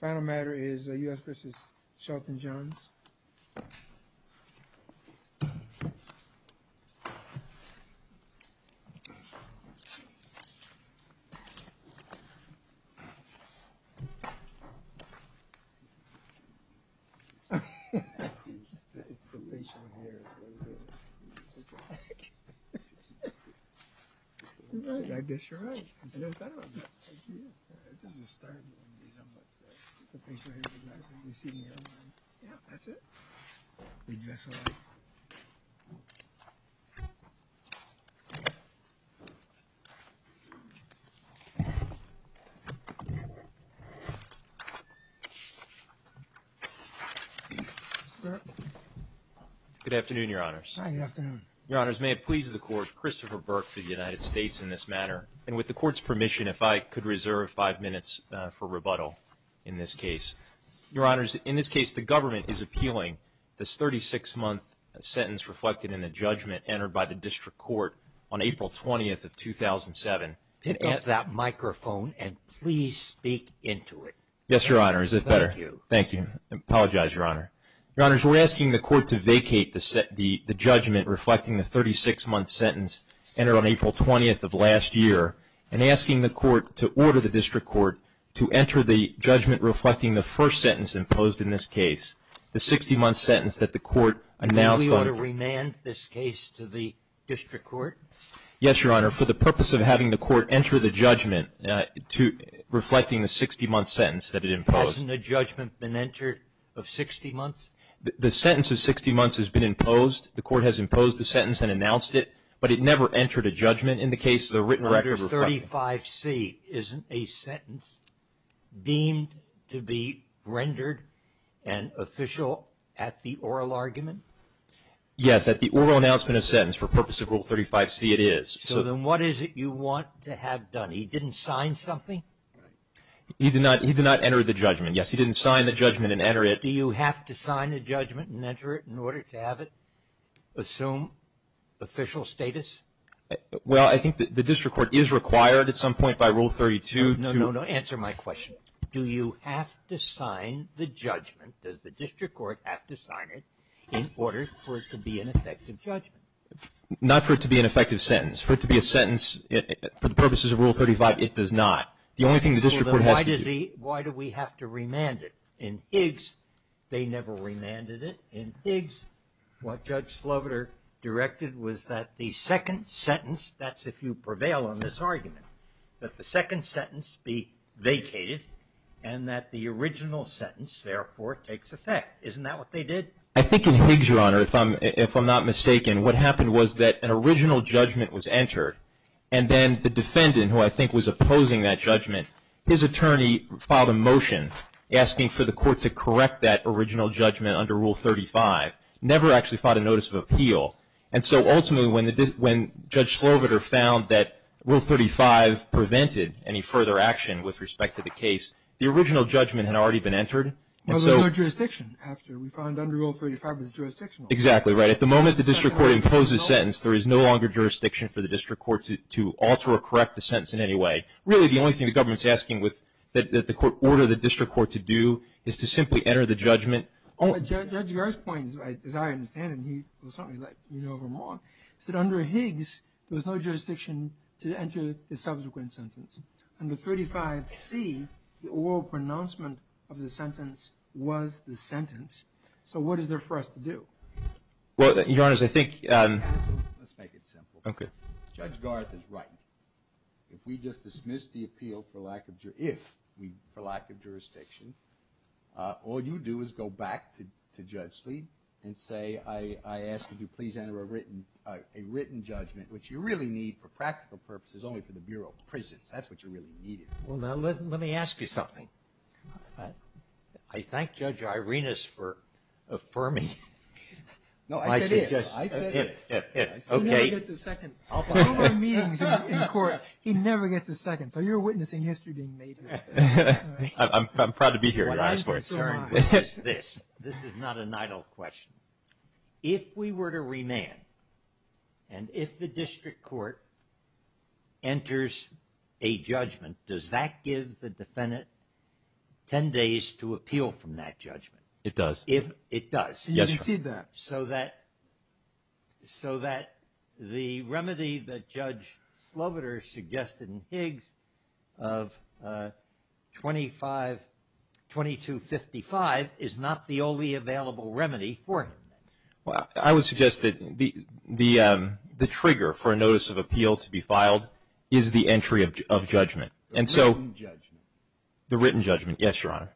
The final matter is the U.S. v. Shelton Johns. I guess you're right. I never thought about that. Good afternoon, your honors. Good afternoon. Your honors, may it please the court, Christopher Burke for the United States in this matter, and with the court's permission, if I could reserve five minutes for rebuttal in this case. Your honors, in this case, the government is appealing this 36-month sentence reflected in the judgment entered by the district court on April 20th of 2007. Pick up that microphone and please speak into it. Yes, your honor. Is that better? Thank you. Thank you. I apologize, your honor. Your honors, we're asking the court to vacate the judgment reflecting the 36-month sentence entered on April 20th of last year, and asking the court to order the district court to enter the judgment reflecting the first sentence imposed in this case, the 60-month sentence that the court announced on April 20th of last year. May we order remand this case to the district court? Yes, your honor. For the purpose of having the court enter the judgment reflecting the 60-month sentence that it imposed. Hasn't a judgment been entered of 60 months? The sentence of 60 months has been imposed. The court has imposed the sentence and announced it, but it never entered a judgment in the case of the written record reflecting it. Rule 35C isn't a sentence deemed to be rendered an official at the oral argument? Yes, at the oral announcement of sentence. For the purpose of Rule 35C, it is. So then what is it you want to have done? He didn't sign something? He did not enter the judgment. Yes, he didn't sign the judgment and enter it. Do you have to sign the judgment and enter it in order to have it assume official status? Well, I think the district court is required at some point by Rule 32 to – No, no, no. Answer my question. Do you have to sign the judgment, does the district court have to sign it, in order for it to be an effective judgment? Not for it to be an effective sentence. For it to be a sentence for the purposes of Rule 35, it does not. The only thing the district court has to do. Why do we have to remand it? In Higgs, they never remanded it. In Higgs, what Judge Sloviter directed was that the second sentence, that's if you prevail on this argument, that the second sentence be vacated and that the original sentence, therefore, takes effect. Isn't that what they did? I think in Higgs, Your Honor, if I'm not mistaken, what happened was that an original judgment was entered and then the defendant, who I think was opposing that judgment, his attorney filed a motion asking for the court to correct that original judgment under Rule 35, never actually filed a notice of appeal. And so ultimately when Judge Sloviter found that Rule 35 prevented any further action with respect to the case, the original judgment had already been entered. But there's no jurisdiction after. We found under Rule 35 there's jurisdiction. Exactly, right. At the moment the district court imposed the sentence, there is no longer jurisdiction for the district court to alter or correct the sentence in any way. Really, the only thing the government's asking that the court order the district court to do is to simply enter the judgment. Judge Gers' point, as I understand it, was something like, you know Vermont, is that under Higgs, there was no jurisdiction to enter the subsequent sentence. Under 35C, the oral pronouncement of the sentence was the sentence. So what is there for us to do? Well, Your Honor, I think... Let's make it simple. Okay. Judge Garth is right. If we just dismiss the appeal for lack of jurisdiction, all you do is go back to Judge Slee and say, I ask that you please enter a written judgment, which you really need for practical purposes only for the Bureau of Prisons. That's what you really need. Well, now let me ask you something. I thank Judge Irenas for affirming my suggestion. No, I said it. Okay. He never gets a second. He never gets a second. So you're witnessing history being made here. I'm proud to be here. This is not an idle question. If we were to remand, and if the district court enters a judgment, does that give the defendant 10 days to appeal from that judgment? It does. It does. Yes, Your Honor. So that the remedy that Judge Sloboder suggested in Higgs of 2255 is not the only available remedy for him. I would suggest that the trigger for a notice of appeal to be filed is the entry of judgment. The written judgment. The written judgment. Yes, Your Honor.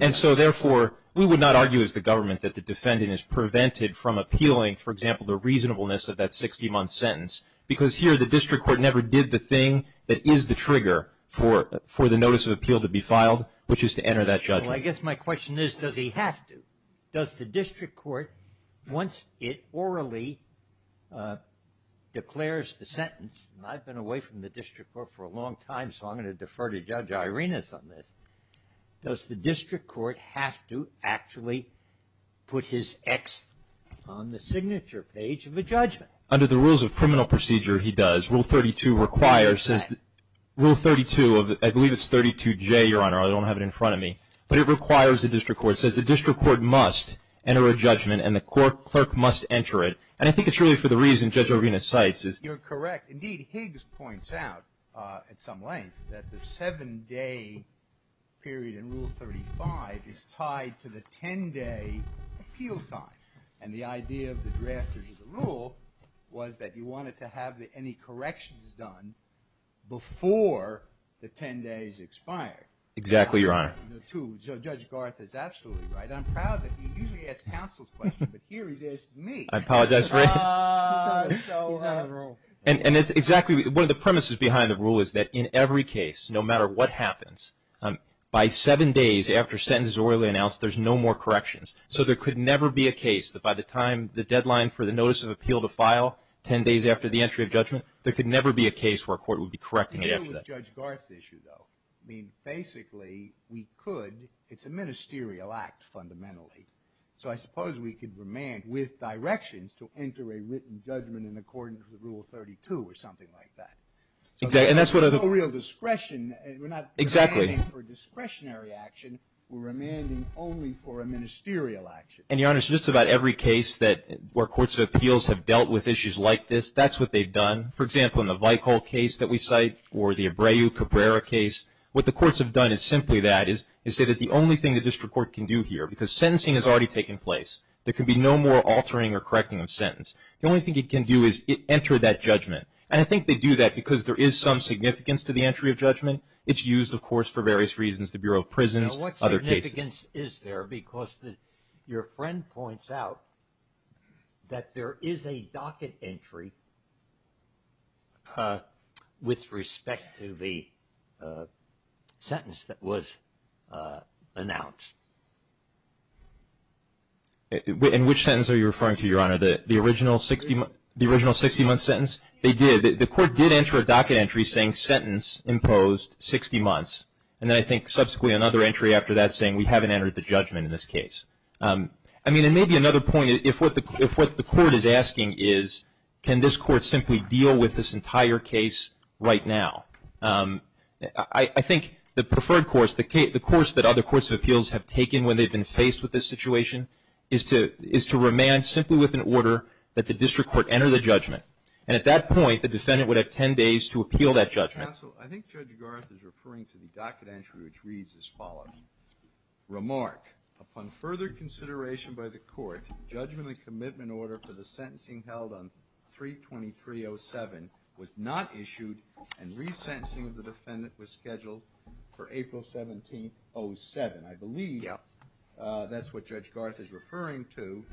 And so, therefore, we would not argue as the government that the defendant is prevented from appealing, for example, the reasonableness of that 60-month sentence, because here the district court never did the thing that is the trigger for the notice of appeal to be filed, which is to enter that judgment. Well, I guess my question is, does he have to? Does the district court, once it orally declares the sentence, and I've been away from the district court for a long time, so I'm going to defer to Judge Irenas on this, does the district court have to actually put his X on the signature page of a judgment? Under the rules of criminal procedure, he does. Rule 32 requires, says, rule 32, I believe it's 32J, Your Honor, I don't have it in front of me, but it requires the district court, says the district court must enter a judgment, and the clerk must enter it, and I think it's really for the reason Judge Irenas cites. You're correct. Indeed, Higgs points out at some length that the 7-day period in Rule 35 is tied to the 10-day appeal time, and the idea of the drafters of the rule was that you wanted to have any corrections done before the 10 days expired. Exactly, Your Honor. So Judge Garth is absolutely right. I'm proud that he usually asks counsel's questions, but here he's asking me. I apologize for it. He's out of the rule. And it's exactly, one of the premises behind the rule is that in every case, no matter what happens, by 7 days after a sentence is orally announced, there's no more corrections. So there could never be a case that by the time the deadline for the notice of appeal to file, 10 days after the entry of judgment, there could never be a case where a court would be correcting it after that. The deal with Judge Garth's issue, though, I mean, basically, we could, it's a ministerial act fundamentally, so I suppose we could remand with directions to enter a written judgment in accordance with Rule 32 or something like that. So there's no real discretion. Exactly. We're not remanding for a discretionary action. We're remanding only for a ministerial action. And, Your Honor, so just about every case where courts of appeals have dealt with issues like this, that's what they've done. For example, in the Veichol case that we cite or the Abreu-Cabrera case, what the courts have done is simply that, is say that the only thing the district court can do here, because sentencing has already taken place, there can be no more altering or correcting of sentence, the only thing it can do is enter that judgment. And I think they do that because there is some significance to the entry of judgment. It's used, of course, for various reasons, the Bureau of Prisons, other cases. But the significance is there because your friend points out that there is a docket entry with respect to the sentence that was announced. And which sentence are you referring to, Your Honor, the original 60-month sentence? They did. The court did enter a docket entry saying sentence imposed 60 months. And then I think subsequently another entry after that saying we haven't entered the judgment in this case. I mean, and maybe another point, if what the court is asking is, can this court simply deal with this entire case right now? I think the preferred course, the course that other courts of appeals have taken when they've been faced with this situation, is to remain simply with an order that the district court enter the judgment. And at that point, the defendant would have 10 days to appeal that judgment. Counsel, I think Judge Garth is referring to the docket entry which reads as follows. Remark, upon further consideration by the court, judgment and commitment order for the sentencing held on 3-23-07 was not issued and resentencing of the defendant was scheduled for April 17, 07. I believe that's what Judge Garth is referring to.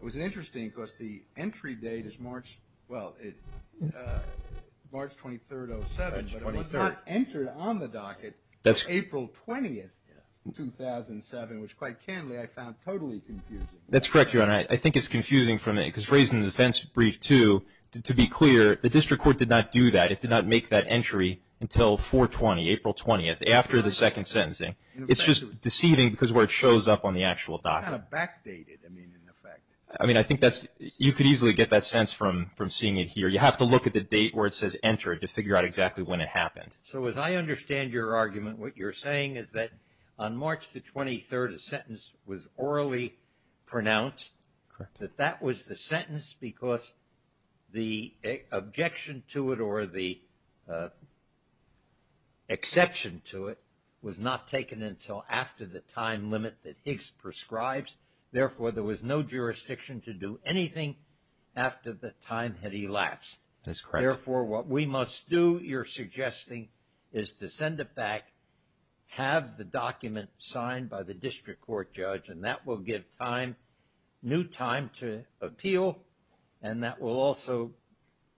It was interesting because the entry date is March 23, 07, but it was not entered on the docket until April 20, 2007, which quite candidly I found totally confusing. That's correct, Your Honor. I think it's confusing because raised in the defense brief too, to be clear, the district court did not do that. It did not make that entry until 4-20, April 20, after the second sentencing. It's just deceiving because of where it shows up on the actual docket. It's kind of backdated, I mean, in effect. I mean, I think you could easily get that sense from seeing it here. You have to look at the date where it says entered to figure out exactly when it happened. So as I understand your argument, what you're saying is that on March 23, a sentence was orally pronounced. Correct. That that was the sentence because the objection to it or the exception to it was not taken until after the time limit that Higgs prescribes. Therefore, there was no jurisdiction to do anything after the time had elapsed. That's correct. Therefore, what we must do, you're suggesting, is to send it back, have the document signed by the district court judge, and that will give time, new time to appeal, and that will also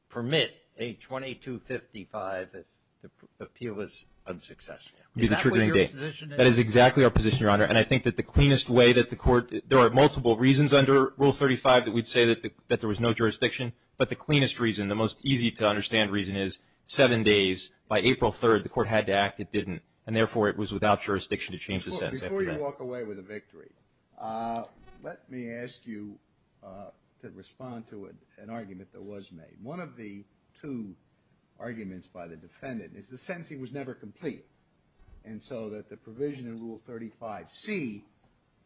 permit a 2255 if the appeal is unsuccessful. Is that what your position is? That is exactly our position, Your Honor, and I think that the cleanest way that the court, there are multiple reasons under Rule 35 that we'd say that there was no jurisdiction, but the cleanest reason, the most easy to understand reason is seven days by April 3, the court had to act. It didn't, and therefore, it was without jurisdiction to change the sentence after that. Let me walk away with a victory. Let me ask you to respond to an argument that was made. One of the two arguments by the defendant is the sentencing was never complete, and so that the provision in Rule 35C,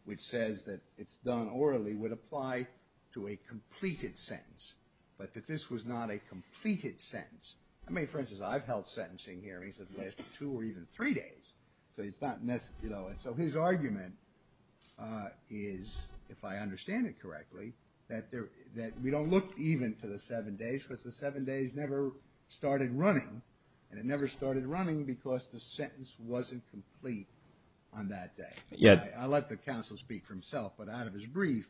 which says that it's done orally, would apply to a completed sentence, but that this was not a completed sentence. I mean, for instance, I've held sentencing hearings that lasted two or even three days, so it's not necessary. You know, and so his argument is, if I understand it correctly, that we don't look even to the seven days because the seven days never started running, and it never started running because the sentence wasn't complete on that day. I'll let the counsel speak for himself, but out of his brief,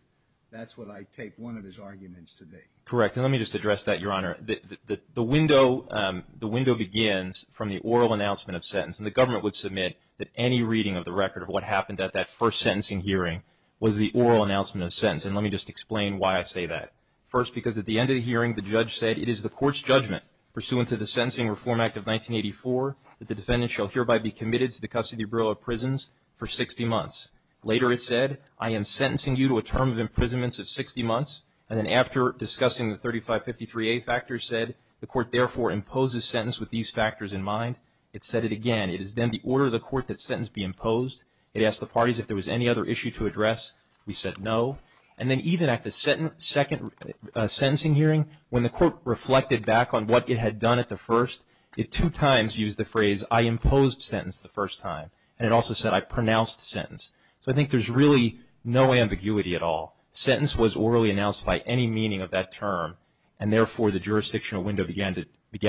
that's what I take one of his arguments to be. Correct, and let me just address that, Your Honor. The window begins from the oral announcement of sentence, and the government would submit that any reading of the record of what happened at that first sentencing hearing was the oral announcement of sentence, and let me just explain why I say that. First, because at the end of the hearing, the judge said, it is the court's judgment pursuant to the Sentencing Reform Act of 1984 that the defendant shall hereby be committed to the custody bureau of prisons for 60 months. Later it said, I am sentencing you to a term of imprisonment of 60 months, and then after discussing the 3553A factors said, the court therefore imposes sentence with these factors in mind. It said it again, it is then the order of the court that sentence be imposed. It asked the parties if there was any other issue to address. We said no, and then even at the second sentencing hearing, when the court reflected back on what it had done at the first, it two times used the phrase, I imposed sentence the first time, and it also said, I pronounced sentence. So I think there's really no ambiguity at all. Sentence was orally announced by any meaning of that term, and therefore the jurisdictional window began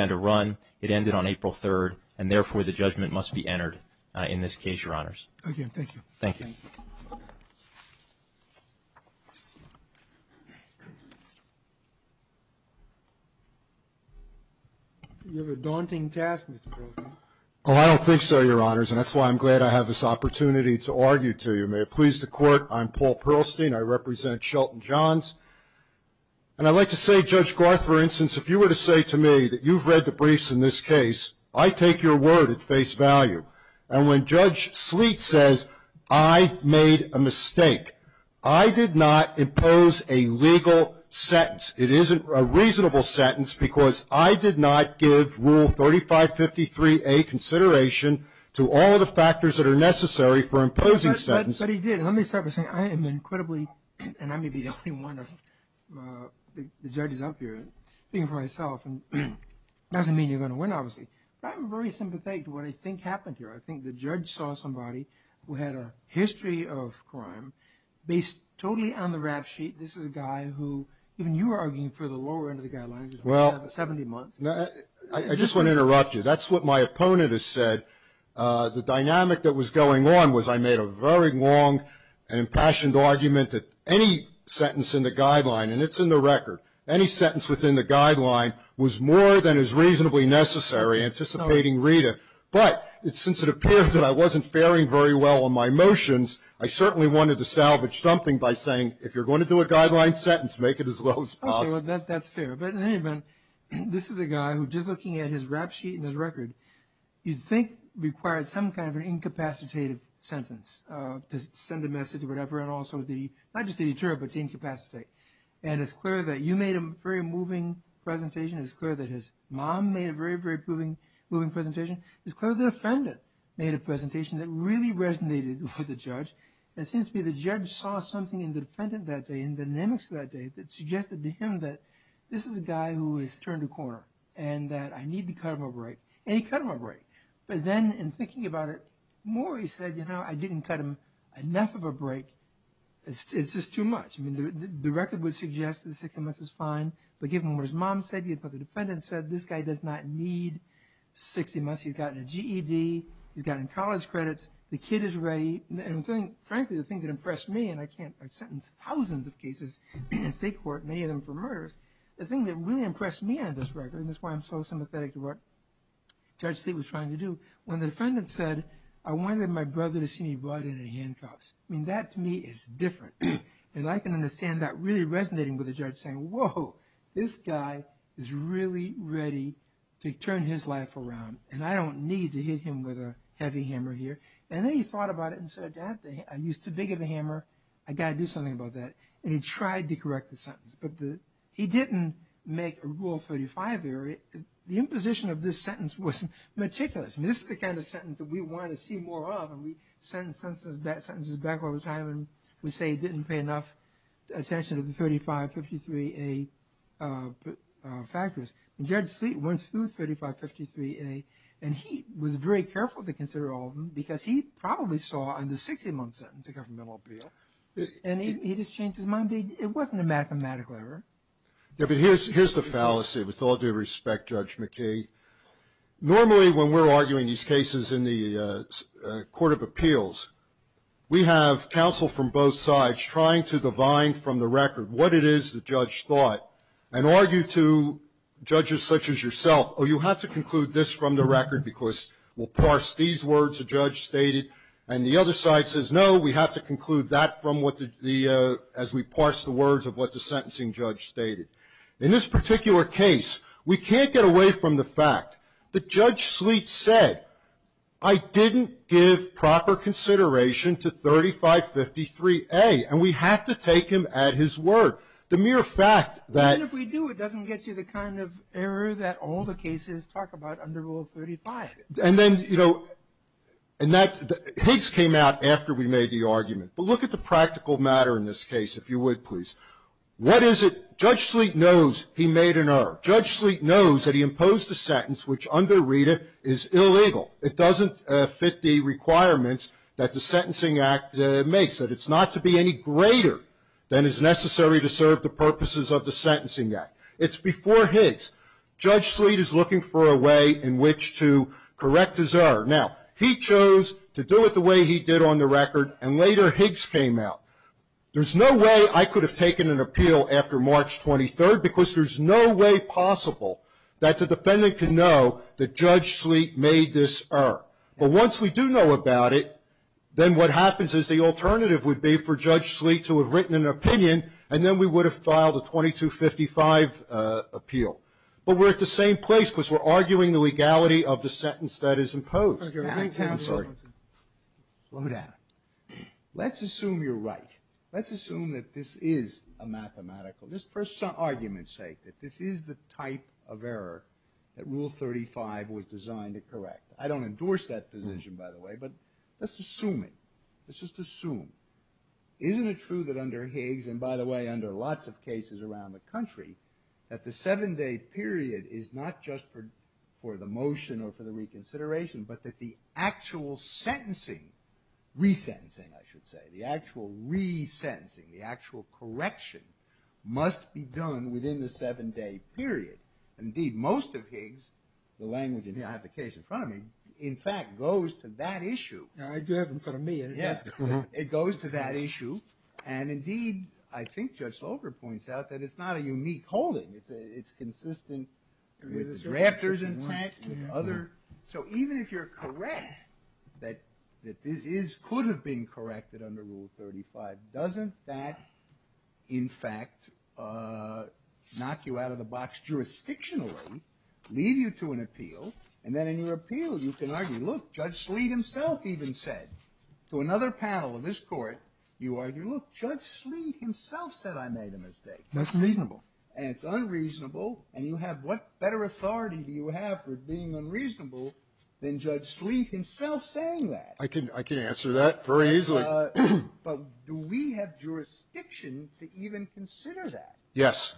to run. It ended on April 3rd, and therefore the judgment must be entered in this case, Your Honors. Okay, thank you. Thank you. You have a daunting task, Mr. Perlstein. Oh, I don't think so, Your Honors, and that's why I'm glad I have this opportunity to argue to you. May it please the Court, I'm Paul Perlstein. I represent Shelton Johns, and I'd like to say, Judge Garth, for instance, if you were to say to me that you've read the briefs in this case, I take your word at face value. And when Judge Sleet says, I made a mistake, I did not impose a legal sentence. It isn't a reasonable sentence because I did not give Rule 3553A consideration to all of the factors that are necessary for imposing sentences. But he did. Let me start by saying I am incredibly, and I may be the only one of the judges up here, speaking for myself, and it doesn't mean you're going to win, obviously. But I'm very sympathetic to what I think happened here. I think the judge saw somebody who had a history of crime based totally on the rap sheet. This is a guy who, even you were arguing for the lower end of the guidelines for 70 months. I just want to interrupt you. That's what my opponent has said. The dynamic that was going on was I made a very long and impassioned argument that any sentence in the guideline, and it's in the record, any sentence within the guideline was more than is reasonably necessary, anticipating Rita. But since it appears that I wasn't faring very well on my motions, I certainly wanted to salvage something by saying, if you're going to do a guideline sentence, make it as low as possible. Okay, well, that's fair. But in any event, this is a guy who, just looking at his rap sheet and his record, you'd think required some kind of an incapacitative sentence to send a message or whatever, and also not just to deter, but to incapacitate. And it's clear that you made a very moving presentation. It's clear that his mom made a very, very moving presentation. It's clear the defendant made a presentation that really resonated with the judge. It seems to me the judge saw something in the defendant that day, in the dynamics that day, that suggested to him that this is a guy who has turned a corner and that I need to cut him a break. And he cut him a break. But then in thinking about it more, he said, you know, I didn't cut him enough of a break. It's just too much. I mean, the record would suggest that 60 months is fine, but given what his mom said, given what the defendant said, this guy does not need 60 months. He's gotten a GED. He's gotten college credits. The kid is ready. And frankly, the thing that impressed me, and I've sentenced thousands of cases in state court, many of them for murders, the thing that really impressed me on this record, and that's why I'm so sympathetic to what Judge Tate was trying to do, when the defendant said, I wanted my brother to see me brought in in handcuffs. I mean, that to me is different. And I can understand that really resonating with the judge saying, whoa, this guy is really ready to turn his life around, and I don't need to hit him with a heavy hammer here. And then he thought about it and said, Dad, I used too big of a hammer. I've got to do something about that. And he tried to correct the sentence, but he didn't make Rule 35 there. The imposition of this sentence was meticulous. I mean, this is the kind of sentence that we want to see more of, and we send sentences back over time, and we say he didn't pay enough attention to the 3553A factors. And Judge Tate went through 3553A, and he was very careful to consider all of them, because he probably saw in the 61 sentence a governmental appeal. And he just changed his mind. It wasn't a mathematical error. Yeah, but here's the fallacy, with all due respect, Judge McKee. Normally when we're arguing these cases in the Court of Appeals, we have counsel from both sides trying to divine from the record what it is the judge thought and argue to judges such as yourself, oh, you have to conclude this from the record because we'll parse these words the judge stated. And the other side says, no, we have to conclude that as we parse the words of what the sentencing judge stated. In this particular case, we can't get away from the fact that Judge Sleet said, I didn't give proper consideration to 3553A, and we have to take him at his word. Even if we do, it doesn't get you the kind of error that all the cases talk about under Rule 35. And then, you know, Higgs came out after we made the argument. But look at the practical matter in this case, if you would, please. What is it? Judge Sleet knows he made an error. Judge Sleet knows that he imposed a sentence which under RETA is illegal. It doesn't fit the requirements that the Sentencing Act makes, that it's not to be any greater than is necessary to serve the purposes of the Sentencing Act. It's before Higgs. Judge Sleet is looking for a way in which to correct his error. Now, he chose to do it the way he did on the record, and later Higgs came out. There's no way I could have taken an appeal after March 23rd because there's no way possible that the defendant could know that Judge Sleet made this error. But once we do know about it, then what happens is the alternative would be for Judge Sleet to have written an opinion, and then we would have filed a 2255 appeal. But we're at the same place because we're arguing the legality of the sentence that is imposed. Now, counsel, slow down. Let's assume you're right. Let's assume that this is a mathematical, just for argument's sake, that this is the type of error that Rule 35 was designed to correct. I don't endorse that position, by the way, but let's assume it. Let's just assume. Isn't it true that under Higgs, and by the way, under lots of cases around the country, that the seven-day period is not just for the motion or for the reconsideration, but that the actual sentencing, resentencing, I should say, the actual resentencing, the actual correction, must be done within the seven-day period? Indeed, most of Higgs, the language, and I have the case in front of me, in fact, goes to that issue. I do have them in front of me. It goes to that issue. And indeed, I think Judge Slover points out that it's not a unique holding. It's consistent with the drafters intact and other. So even if you're correct that this could have been corrected under Rule 35, doesn't that, in fact, knock you out of the box jurisdictionally, lead you to an appeal? And then in your appeal, you can argue, look, Judge Sleet himself even said to another panel in this court, you argue, look, Judge Sleet himself said I made a mistake. That's unreasonable. And it's unreasonable. And you have what better authority do you have for being unreasonable than Judge Sleet himself saying that? I can answer that very easily. But do we have jurisdiction to even consider that? Yes.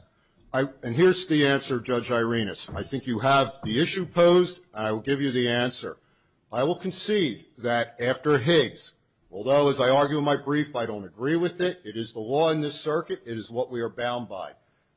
And here's the answer, Judge Irenas. I think you have the issue posed, and I will give you the answer. I will concede that after Higgs, although as I argue in my brief, I don't agree with it, it is the law in this circuit, it is what we are bound by,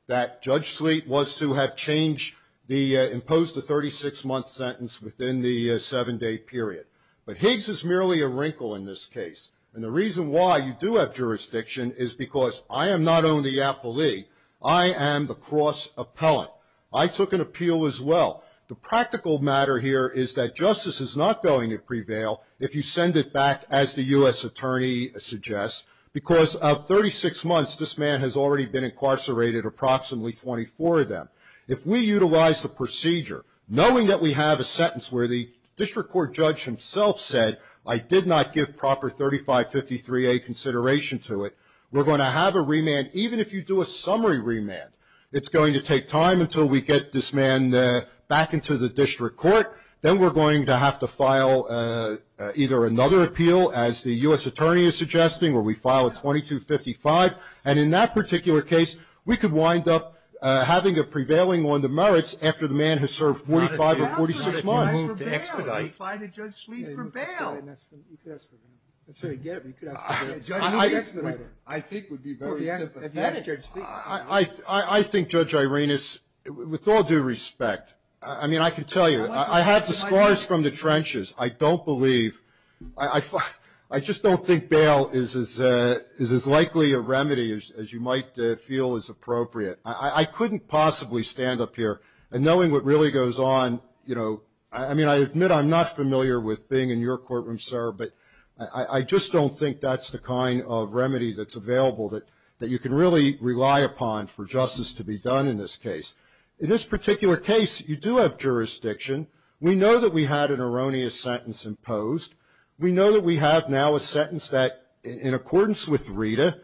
that Judge Sleet was to have changed the imposed 36-month sentence within the seven-day period. But Higgs is merely a wrinkle in this case. And the reason why you do have jurisdiction is because I am not only the appellee, I am the cross-appellant. I took an appeal as well. The practical matter here is that justice is not going to prevail if you send it back, as the U.S. Attorney suggests, because of 36 months, this man has already been incarcerated, approximately 24 of them. If we utilize the procedure, knowing that we have a sentence where the district court judge himself said, I did not give proper 3553A consideration to it, we're going to have a remand. Even if you do a summary remand, it's going to take time until we get this man back into the district court. Then we're going to have to file either another appeal, as the U.S. Attorney is suggesting, where we file a 2255. And in that particular case, we could wind up having a prevailing one to merits after the man has served 45 or 46 months. I think Judge Irenas, with all due respect, I mean, I can tell you, I had the scars from the trenches. I don't believe, I just don't think bail is as likely a remedy as you might feel is appropriate. I couldn't possibly stand up here. And knowing what really goes on, you know, I mean, I admit I'm not familiar with being in your courtroom, sir, but I just don't think that's the kind of remedy that's available that you can really rely upon for justice to be done in this case. In this particular case, you do have jurisdiction. We know that we had an erroneous sentence imposed. We know that we have now a sentence that, in accordance with Rita,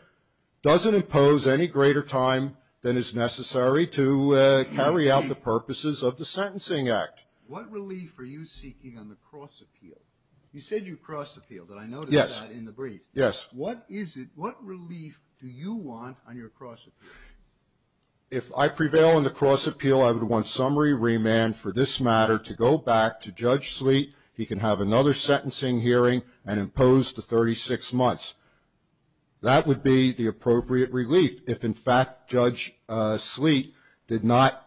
doesn't impose any greater time than is necessary to carry out the purposes of the Sentencing Act. What relief are you seeking on the cross-appeal? You said you cross-appealed, and I noticed that in the brief. Yes. What is it, what relief do you want on your cross-appeal? If I prevail in the cross-appeal, I would want summary remand for this matter to go back to Judge Sleet. He can have another sentencing hearing and impose the 36 months. That would be the appropriate relief if, in fact, Judge Sleet did not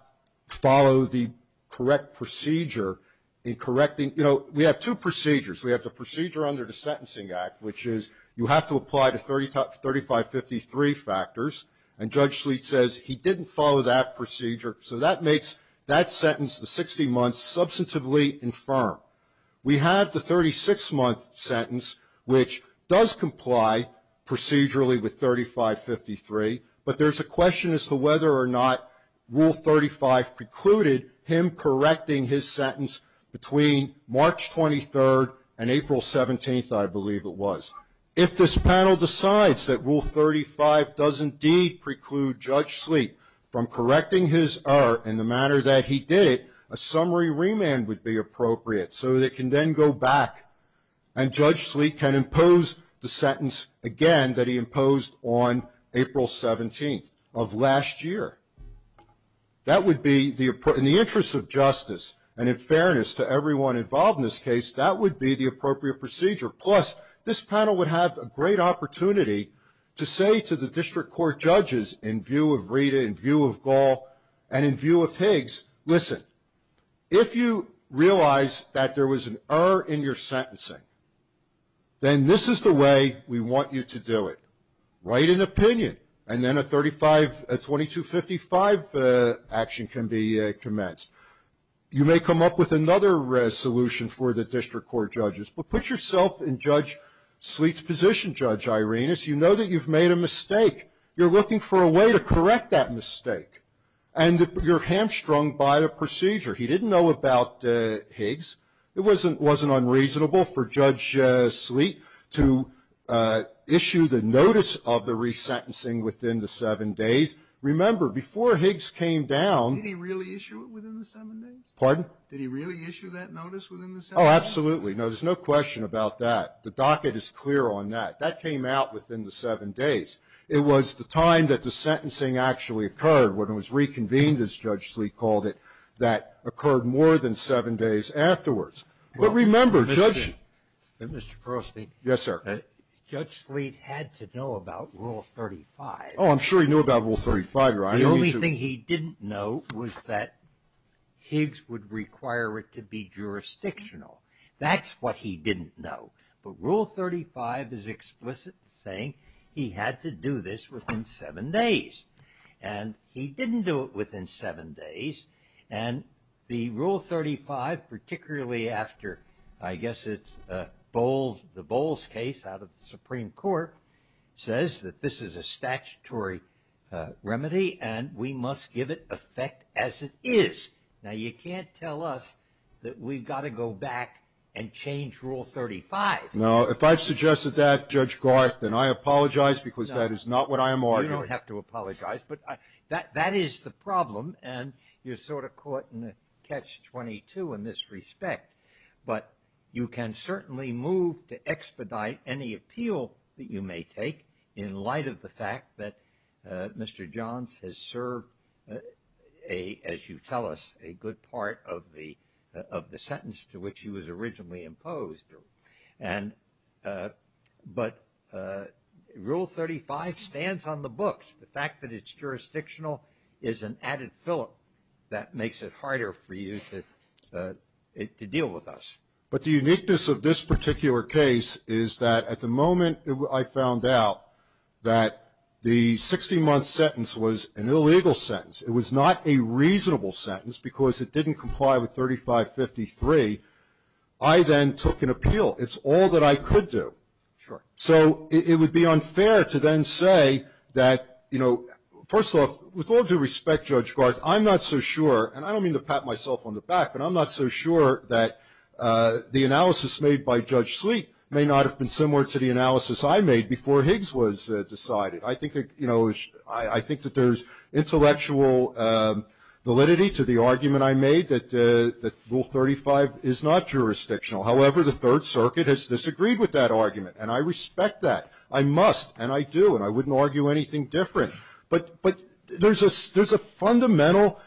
follow the correct procedure in correcting. You know, we have two procedures. We have the procedure under the Sentencing Act, which is you have to apply the 3553 factors, and Judge Sleet says he didn't follow that procedure. So that makes that sentence, the 60 months, substantively infirm. We have the 36-month sentence, which does comply procedurally with 3553, but there's a question as to whether or not Rule 35 precluded him correcting his sentence between March 23rd and April 17th, I believe it was. If this panel decides that Rule 35 does indeed preclude Judge Sleet from correcting his error in the manner that he did it, a summary remand would be appropriate so that it can then go back and Judge Sleet can impose the sentence again that he imposed on April 17th of last year. That would be, in the interest of justice and in fairness to everyone involved in this case, that would be the appropriate procedure. Plus, this panel would have a great opportunity to say to the district court judges in view of Rita, in view of Gall, and in view of Higgs, listen, if you realize that there was an error in your sentencing, then this is the way we want you to do it. Write an opinion, and then a 2255 action can be commenced. You may come up with another resolution for the district court judges, but put yourself in Judge Sleet's position, Judge Irenas. You know that you've made a mistake. You're looking for a way to correct that mistake, and you're hamstrung by the procedure. He didn't know about Higgs. It wasn't unreasonable for Judge Sleet to issue the notice of the resentencing within the seven days. Remember, before Higgs came down. Did he really issue it within the seven days? Pardon? Did he really issue that notice within the seven days? Oh, absolutely. No, there's no question about that. The docket is clear on that. That came out within the seven days. It was the time that the sentencing actually occurred, when it was reconvened, as Judge Sleet called it, that occurred more than seven days afterwards. But remember, Judge. Mr. Crosby. Yes, sir. Judge Sleet had to know about Rule 35. Oh, I'm sure he knew about Rule 35. The only thing he didn't know was that Higgs would require it to be jurisdictional. That's what he didn't know. But Rule 35 is explicit in saying he had to do this within seven days. And he didn't do it within seven days. And the Rule 35, particularly after, I guess it's the Bowles case out of the Supreme Court, says that this is a statutory remedy and we must give it effect as it is. Now, you can't tell us that we've got to go back and change Rule 35. No, if I've suggested that, Judge Garth, then I apologize because that is not what I am arguing. You don't have to apologize. But that is the problem. And you're sort of caught in catch-22 in this respect. But you can certainly move to expedite any appeal that you may take in light of the fact that Mr. Johns has served, as you tell us, a good part of the sentence to which he was originally imposed. But Rule 35 stands on the books. The fact that it's jurisdictional is an added filler that makes it harder for you to deal with us. But the uniqueness of this particular case is that at the moment I found out that the 60-month sentence was an illegal sentence. It was not a reasonable sentence because it didn't comply with 3553. I then took an appeal. It's all that I could do. Sure. So it would be unfair to then say that, you know, first of all, with all due respect, Judge Garth, I'm not so sure, and I don't mean to pat myself on the back, but I'm not so sure that the analysis made by Judge Sleet may not have been similar to the analysis I made before Higgs was decided. I think, you know, I think that there's intellectual validity to the argument I made that Rule 35 is not jurisdictional. However, the Third Circuit has disagreed with that argument. And I respect that. I must, and I do, and I wouldn't argue anything different. But there's a fundamental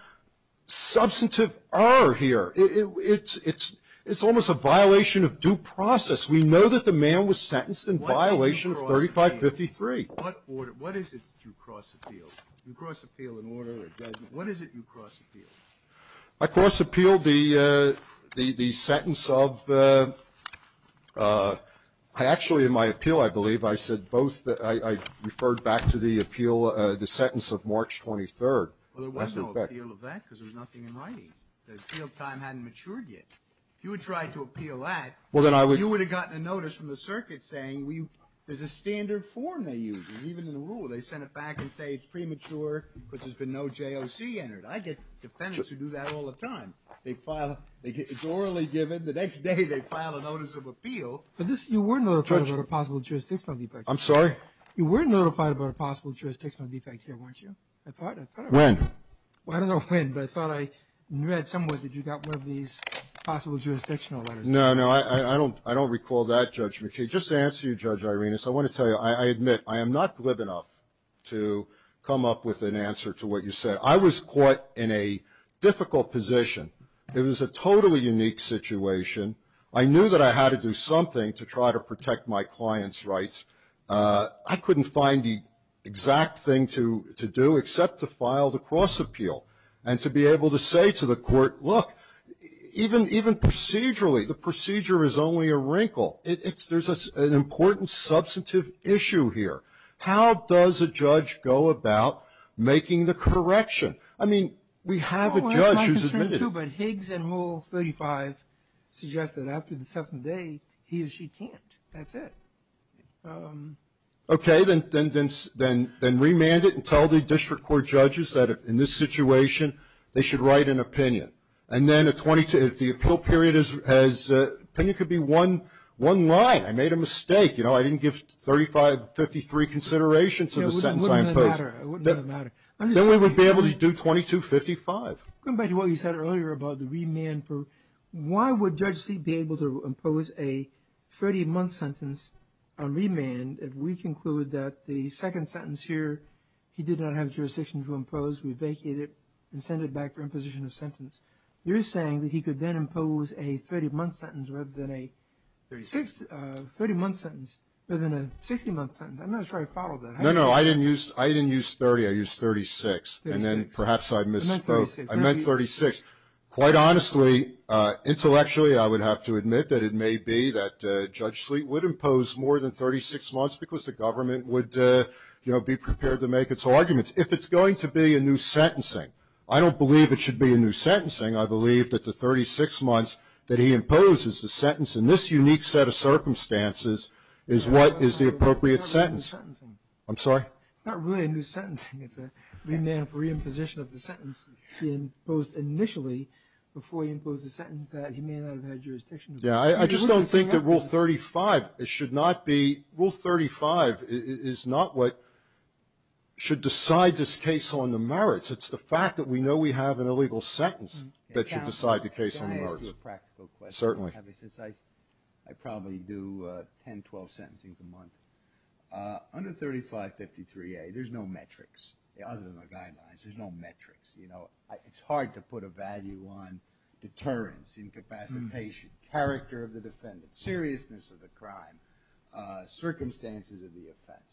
substantive error here. It's almost a violation of due process. We know that the man was sentenced in violation of 3553. What is it you cross appealed? You cross appeal an order that doesn't — what is it you cross appealed? I cross appealed the sentence of — I actually, in my appeal, I believe, I said both — I referred back to the appeal, the sentence of March 23rd. Well, there was no appeal of that because there was nothing in writing. The appeal time hadn't matured yet. If you had tried to appeal that, you would have gotten a notice from the circuit saying there's a standard form they use, even in the rule. They send it back and say it's premature because there's been no JOC entered. I get defendants who do that all the time. They file — it's orally given. The next day they file a notice of appeal. But this — you were notified about a possible jurisdictional defect. I'm sorry? You were notified about a possible jurisdictional defect here, weren't you? I thought — I thought — When? Well, I don't know when, but I thought I read somewhere that you got one of these possible jurisdictional letters. No, no, I don't recall that, Judge McKay. Just to answer you, Judge Irenas, I want to tell you, I admit, I am not glib enough to come up with an answer to what you said. I was caught in a difficult position. It was a totally unique situation. I knew that I had to do something to try to protect my client's rights. I couldn't find the exact thing to do except to file the cross-appeal and to be able to say to the court, look, even procedurally, the procedure is only a wrinkle. There's an important substantive issue here. How does a judge go about making the correction? I mean, we have a judge who's admitted it. Well, that's my concern, too. But Higgs and Rule 35 suggest that after the seventh day, he or she can't. That's it. Okay. Then remand it and tell the district court judges that in this situation, they should write an opinion. And then a 22 — if the appeal period has — opinion could be one line. I made a mistake. You know, I didn't give 3553 consideration to the sentence I imposed. It wouldn't have mattered. It wouldn't have mattered. Then we would be able to do 2255. Going back to what you said earlier about the remand, why would Judge Sleet be able to impose a 30-month sentence on remand if we conclude that the second sentence here, he did not have jurisdiction to impose, we vacated it and sent it back for imposition of sentence? You're saying that he could then impose a 30-month sentence rather than a 60-month sentence. I'm not sure I followed that. No, no. I didn't use 30. I used 36. And then perhaps I misspoke. I meant 36. Quite honestly, intellectually, I would have to admit that it may be that Judge Sleet would impose more than 36 months because the government would, you know, be prepared to make its arguments. If it's going to be a new sentencing, I don't believe it should be a new sentencing. I believe that the 36 months that he imposes the sentence in this unique set of circumstances is what is the appropriate sentence. It's not really a new sentencing. I'm sorry? It's not really a new sentencing. It's a remand for reimposition of the sentence he imposed initially before he imposed the sentence that he may not have had jurisdiction. Yeah. I just don't think that Rule 35 should not be – Rule 35 is not what should decide this case on the merits. It's the fact that we know we have an illegal sentence that should decide the case on the merits. Can I ask you a practical question? Certainly. I probably do 10, 12 sentencings a month. Under 3553A, there's no metrics. Other than the guidelines, there's no metrics. It's hard to put a value on deterrence, incapacitation, character of the defendant, seriousness of the crime, circumstances of the offense.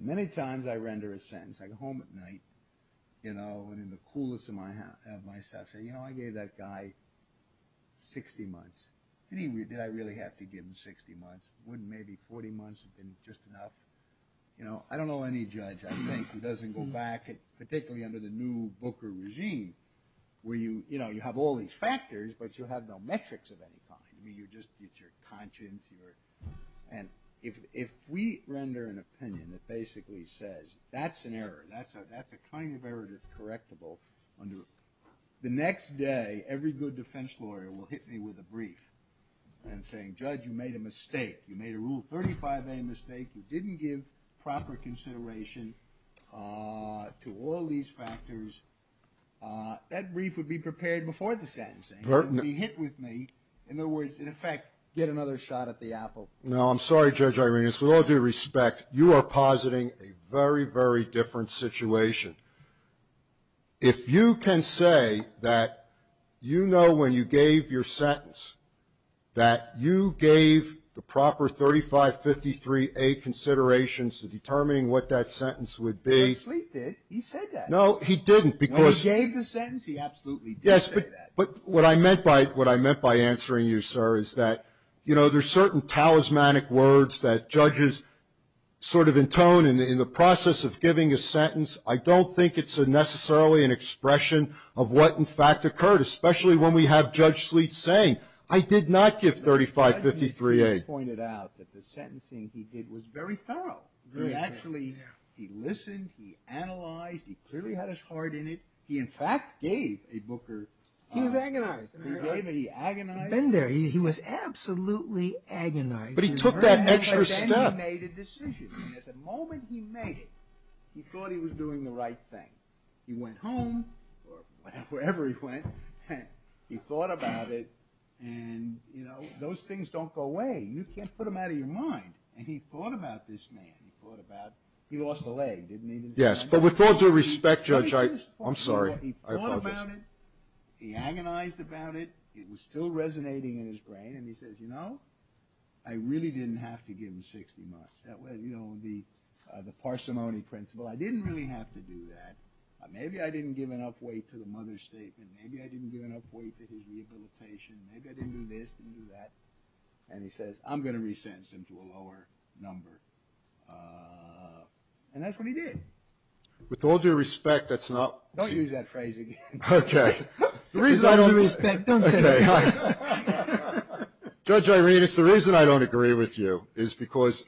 Many times I render a sentence. I go home at night and in the coolest of myself say, you know, I gave that guy 60 months. Did I really have to give him 60 months? Wouldn't maybe 40 months have been just enough? You know, I don't know any judge, I think, who doesn't go back, particularly under the new Booker regime, where, you know, you have all these factors, but you have no metrics of any kind. I mean, you just get your conscience. And if we render an opinion that basically says that's an error, that's a kind of error that's correctable, the next day every good defense lawyer will hit me with a brief and say, Judge, you made a mistake. You made a Rule 35A mistake. You didn't give proper consideration to all these factors. That brief would be prepared before the sentencing. It would be hit with me. In other words, in effect, get another shot at the apple. No, I'm sorry, Judge Irenas. With all due respect, you are positing a very, very different situation. If you can say that you know when you gave your sentence that you gave the proper 3553A considerations to determining what that sentence would be. He absolutely did. He said that. No, he didn't. When he gave the sentence, he absolutely did say that. Yes, but what I meant by answering you, sir, is that, you know, there's certain talismanic words that judges sort of intone in the process of giving a sentence. I don't think it's necessarily an expression of what, in fact, occurred, especially when we have Judge Sleet saying, I did not give 3553A. Judge Sleet pointed out that the sentencing he did was very thorough. He actually, he listened. He analyzed. He clearly had his heart in it. He, in fact, gave a Booker. He was agonized. He gave it. He agonized. He'd been there. He was absolutely agonized. But he took that extra step. He made a decision. And at the moment he made it, he thought he was doing the right thing. He went home, or wherever he went, and he thought about it. And, you know, those things don't go away. You can't put them out of your mind. And he thought about this man. He thought about, he lost a leg, didn't he? Yes, but with all due respect, Judge, I'm sorry. He thought about it. He agonized about it. It was still resonating in his brain. And he says, you know, I really didn't have to give him 60 months. That was, you know, the parsimony principle. I didn't really have to do that. Maybe I didn't give enough weight to the mother's statement. Maybe I didn't give enough weight to his rehabilitation. Maybe I didn't do this, didn't do that. And he says, I'm going to re-sentence him to a lower number. And that's what he did. With all due respect, that's not. Don't use that phrase again. Okay. With all due respect, don't say that again. Judge Irenas, the reason I don't agree with you is because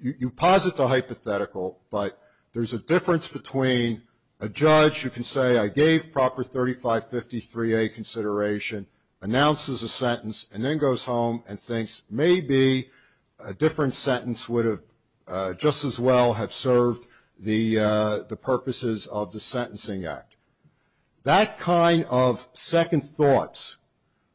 you posit the hypothetical, but there's a difference between a judge who can say, I gave proper 3553A consideration, announces a sentence, and then goes home and thinks, maybe a different sentence would have just as well have served the purposes of the Sentencing Act. That kind of second thoughts,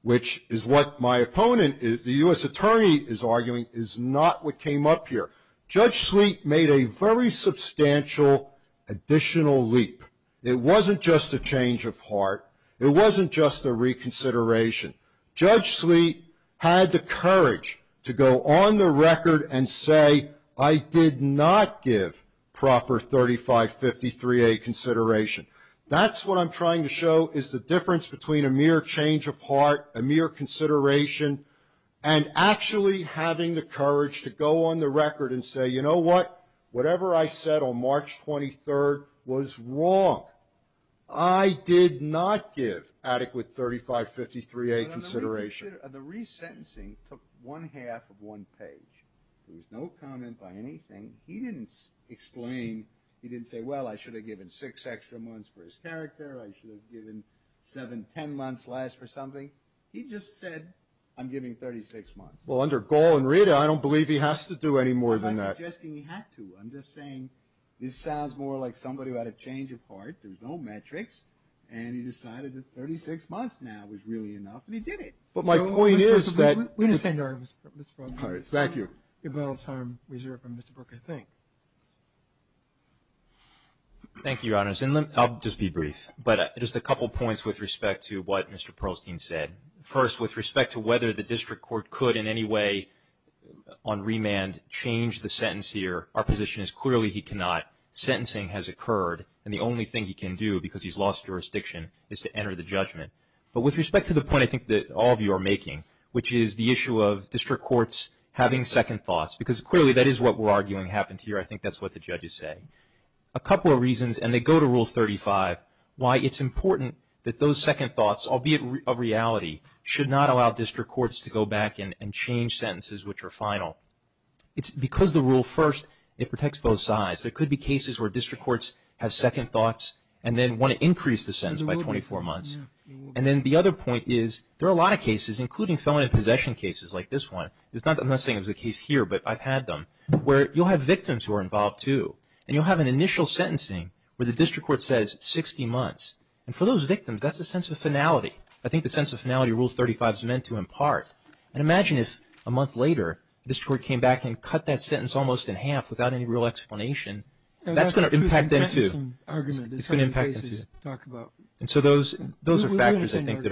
which is what my opponent, the U.S. attorney, is arguing is not what came up here. Judge Sleet made a very substantial additional leap. It wasn't just a change of heart. It wasn't just a reconsideration. Judge Sleet had the courage to go on the record and say, I did not give proper 3553A consideration. That's what I'm trying to show is the difference between a mere change of heart, a mere consideration, and actually having the courage to go on the record and say, you know what, whatever I said on March 23rd was wrong. I did not give adequate 3553A consideration. The resentencing took one half of one page. There was no comment by anything. He didn't explain. He didn't say, well, I should have given six extra months for his character. I should have given seven, ten months less for something. He just said, I'm giving 36 months. Well, under Gall and Rita, I don't believe he has to do any more than that. I'm not suggesting he had to. I'm just saying this sounds more like somebody who had a change of heart. There's no metrics. And he decided that 36 months now was really enough, and he did it. But my point is that. We understand your argument, Mr. Brook. Thank you. A little time reserved from Mr. Brook, I think. Thank you, Your Honors. And I'll just be brief. But just a couple points with respect to what Mr. Perlstein said. First, with respect to whether the district court could in any way on remand change the sentence here, our position is clearly he cannot. Sentencing has occurred, and the only thing he can do because he's lost jurisdiction is to enter the judgment. But with respect to the point I think that all of you are making, which is the issue of district courts having second thoughts, because clearly that is what we're arguing happened here. I think that's what the judges say. A couple of reasons, and they go to Rule 35, why it's important that those second thoughts, albeit a reality, should not allow district courts to go back and change sentences which are final. It's because the rule first, it protects both sides. There could be cases where district courts have second thoughts and then want to increase the sentence by 24 months. And then the other point is there are a lot of cases, including felony possession cases like this one. I'm not saying it was the case here, but I've had them, where you'll have victims who are involved too. And you'll have an initial sentencing where the district court says 60 months. And for those victims, that's a sense of finality. I think the sense of finality Rule 35 is meant to impart. And imagine if a month later the district court came back and cut that sentence almost in half without any real explanation. That's going to impact them too. It's going to impact them too. And so those are factors I think that are a reality.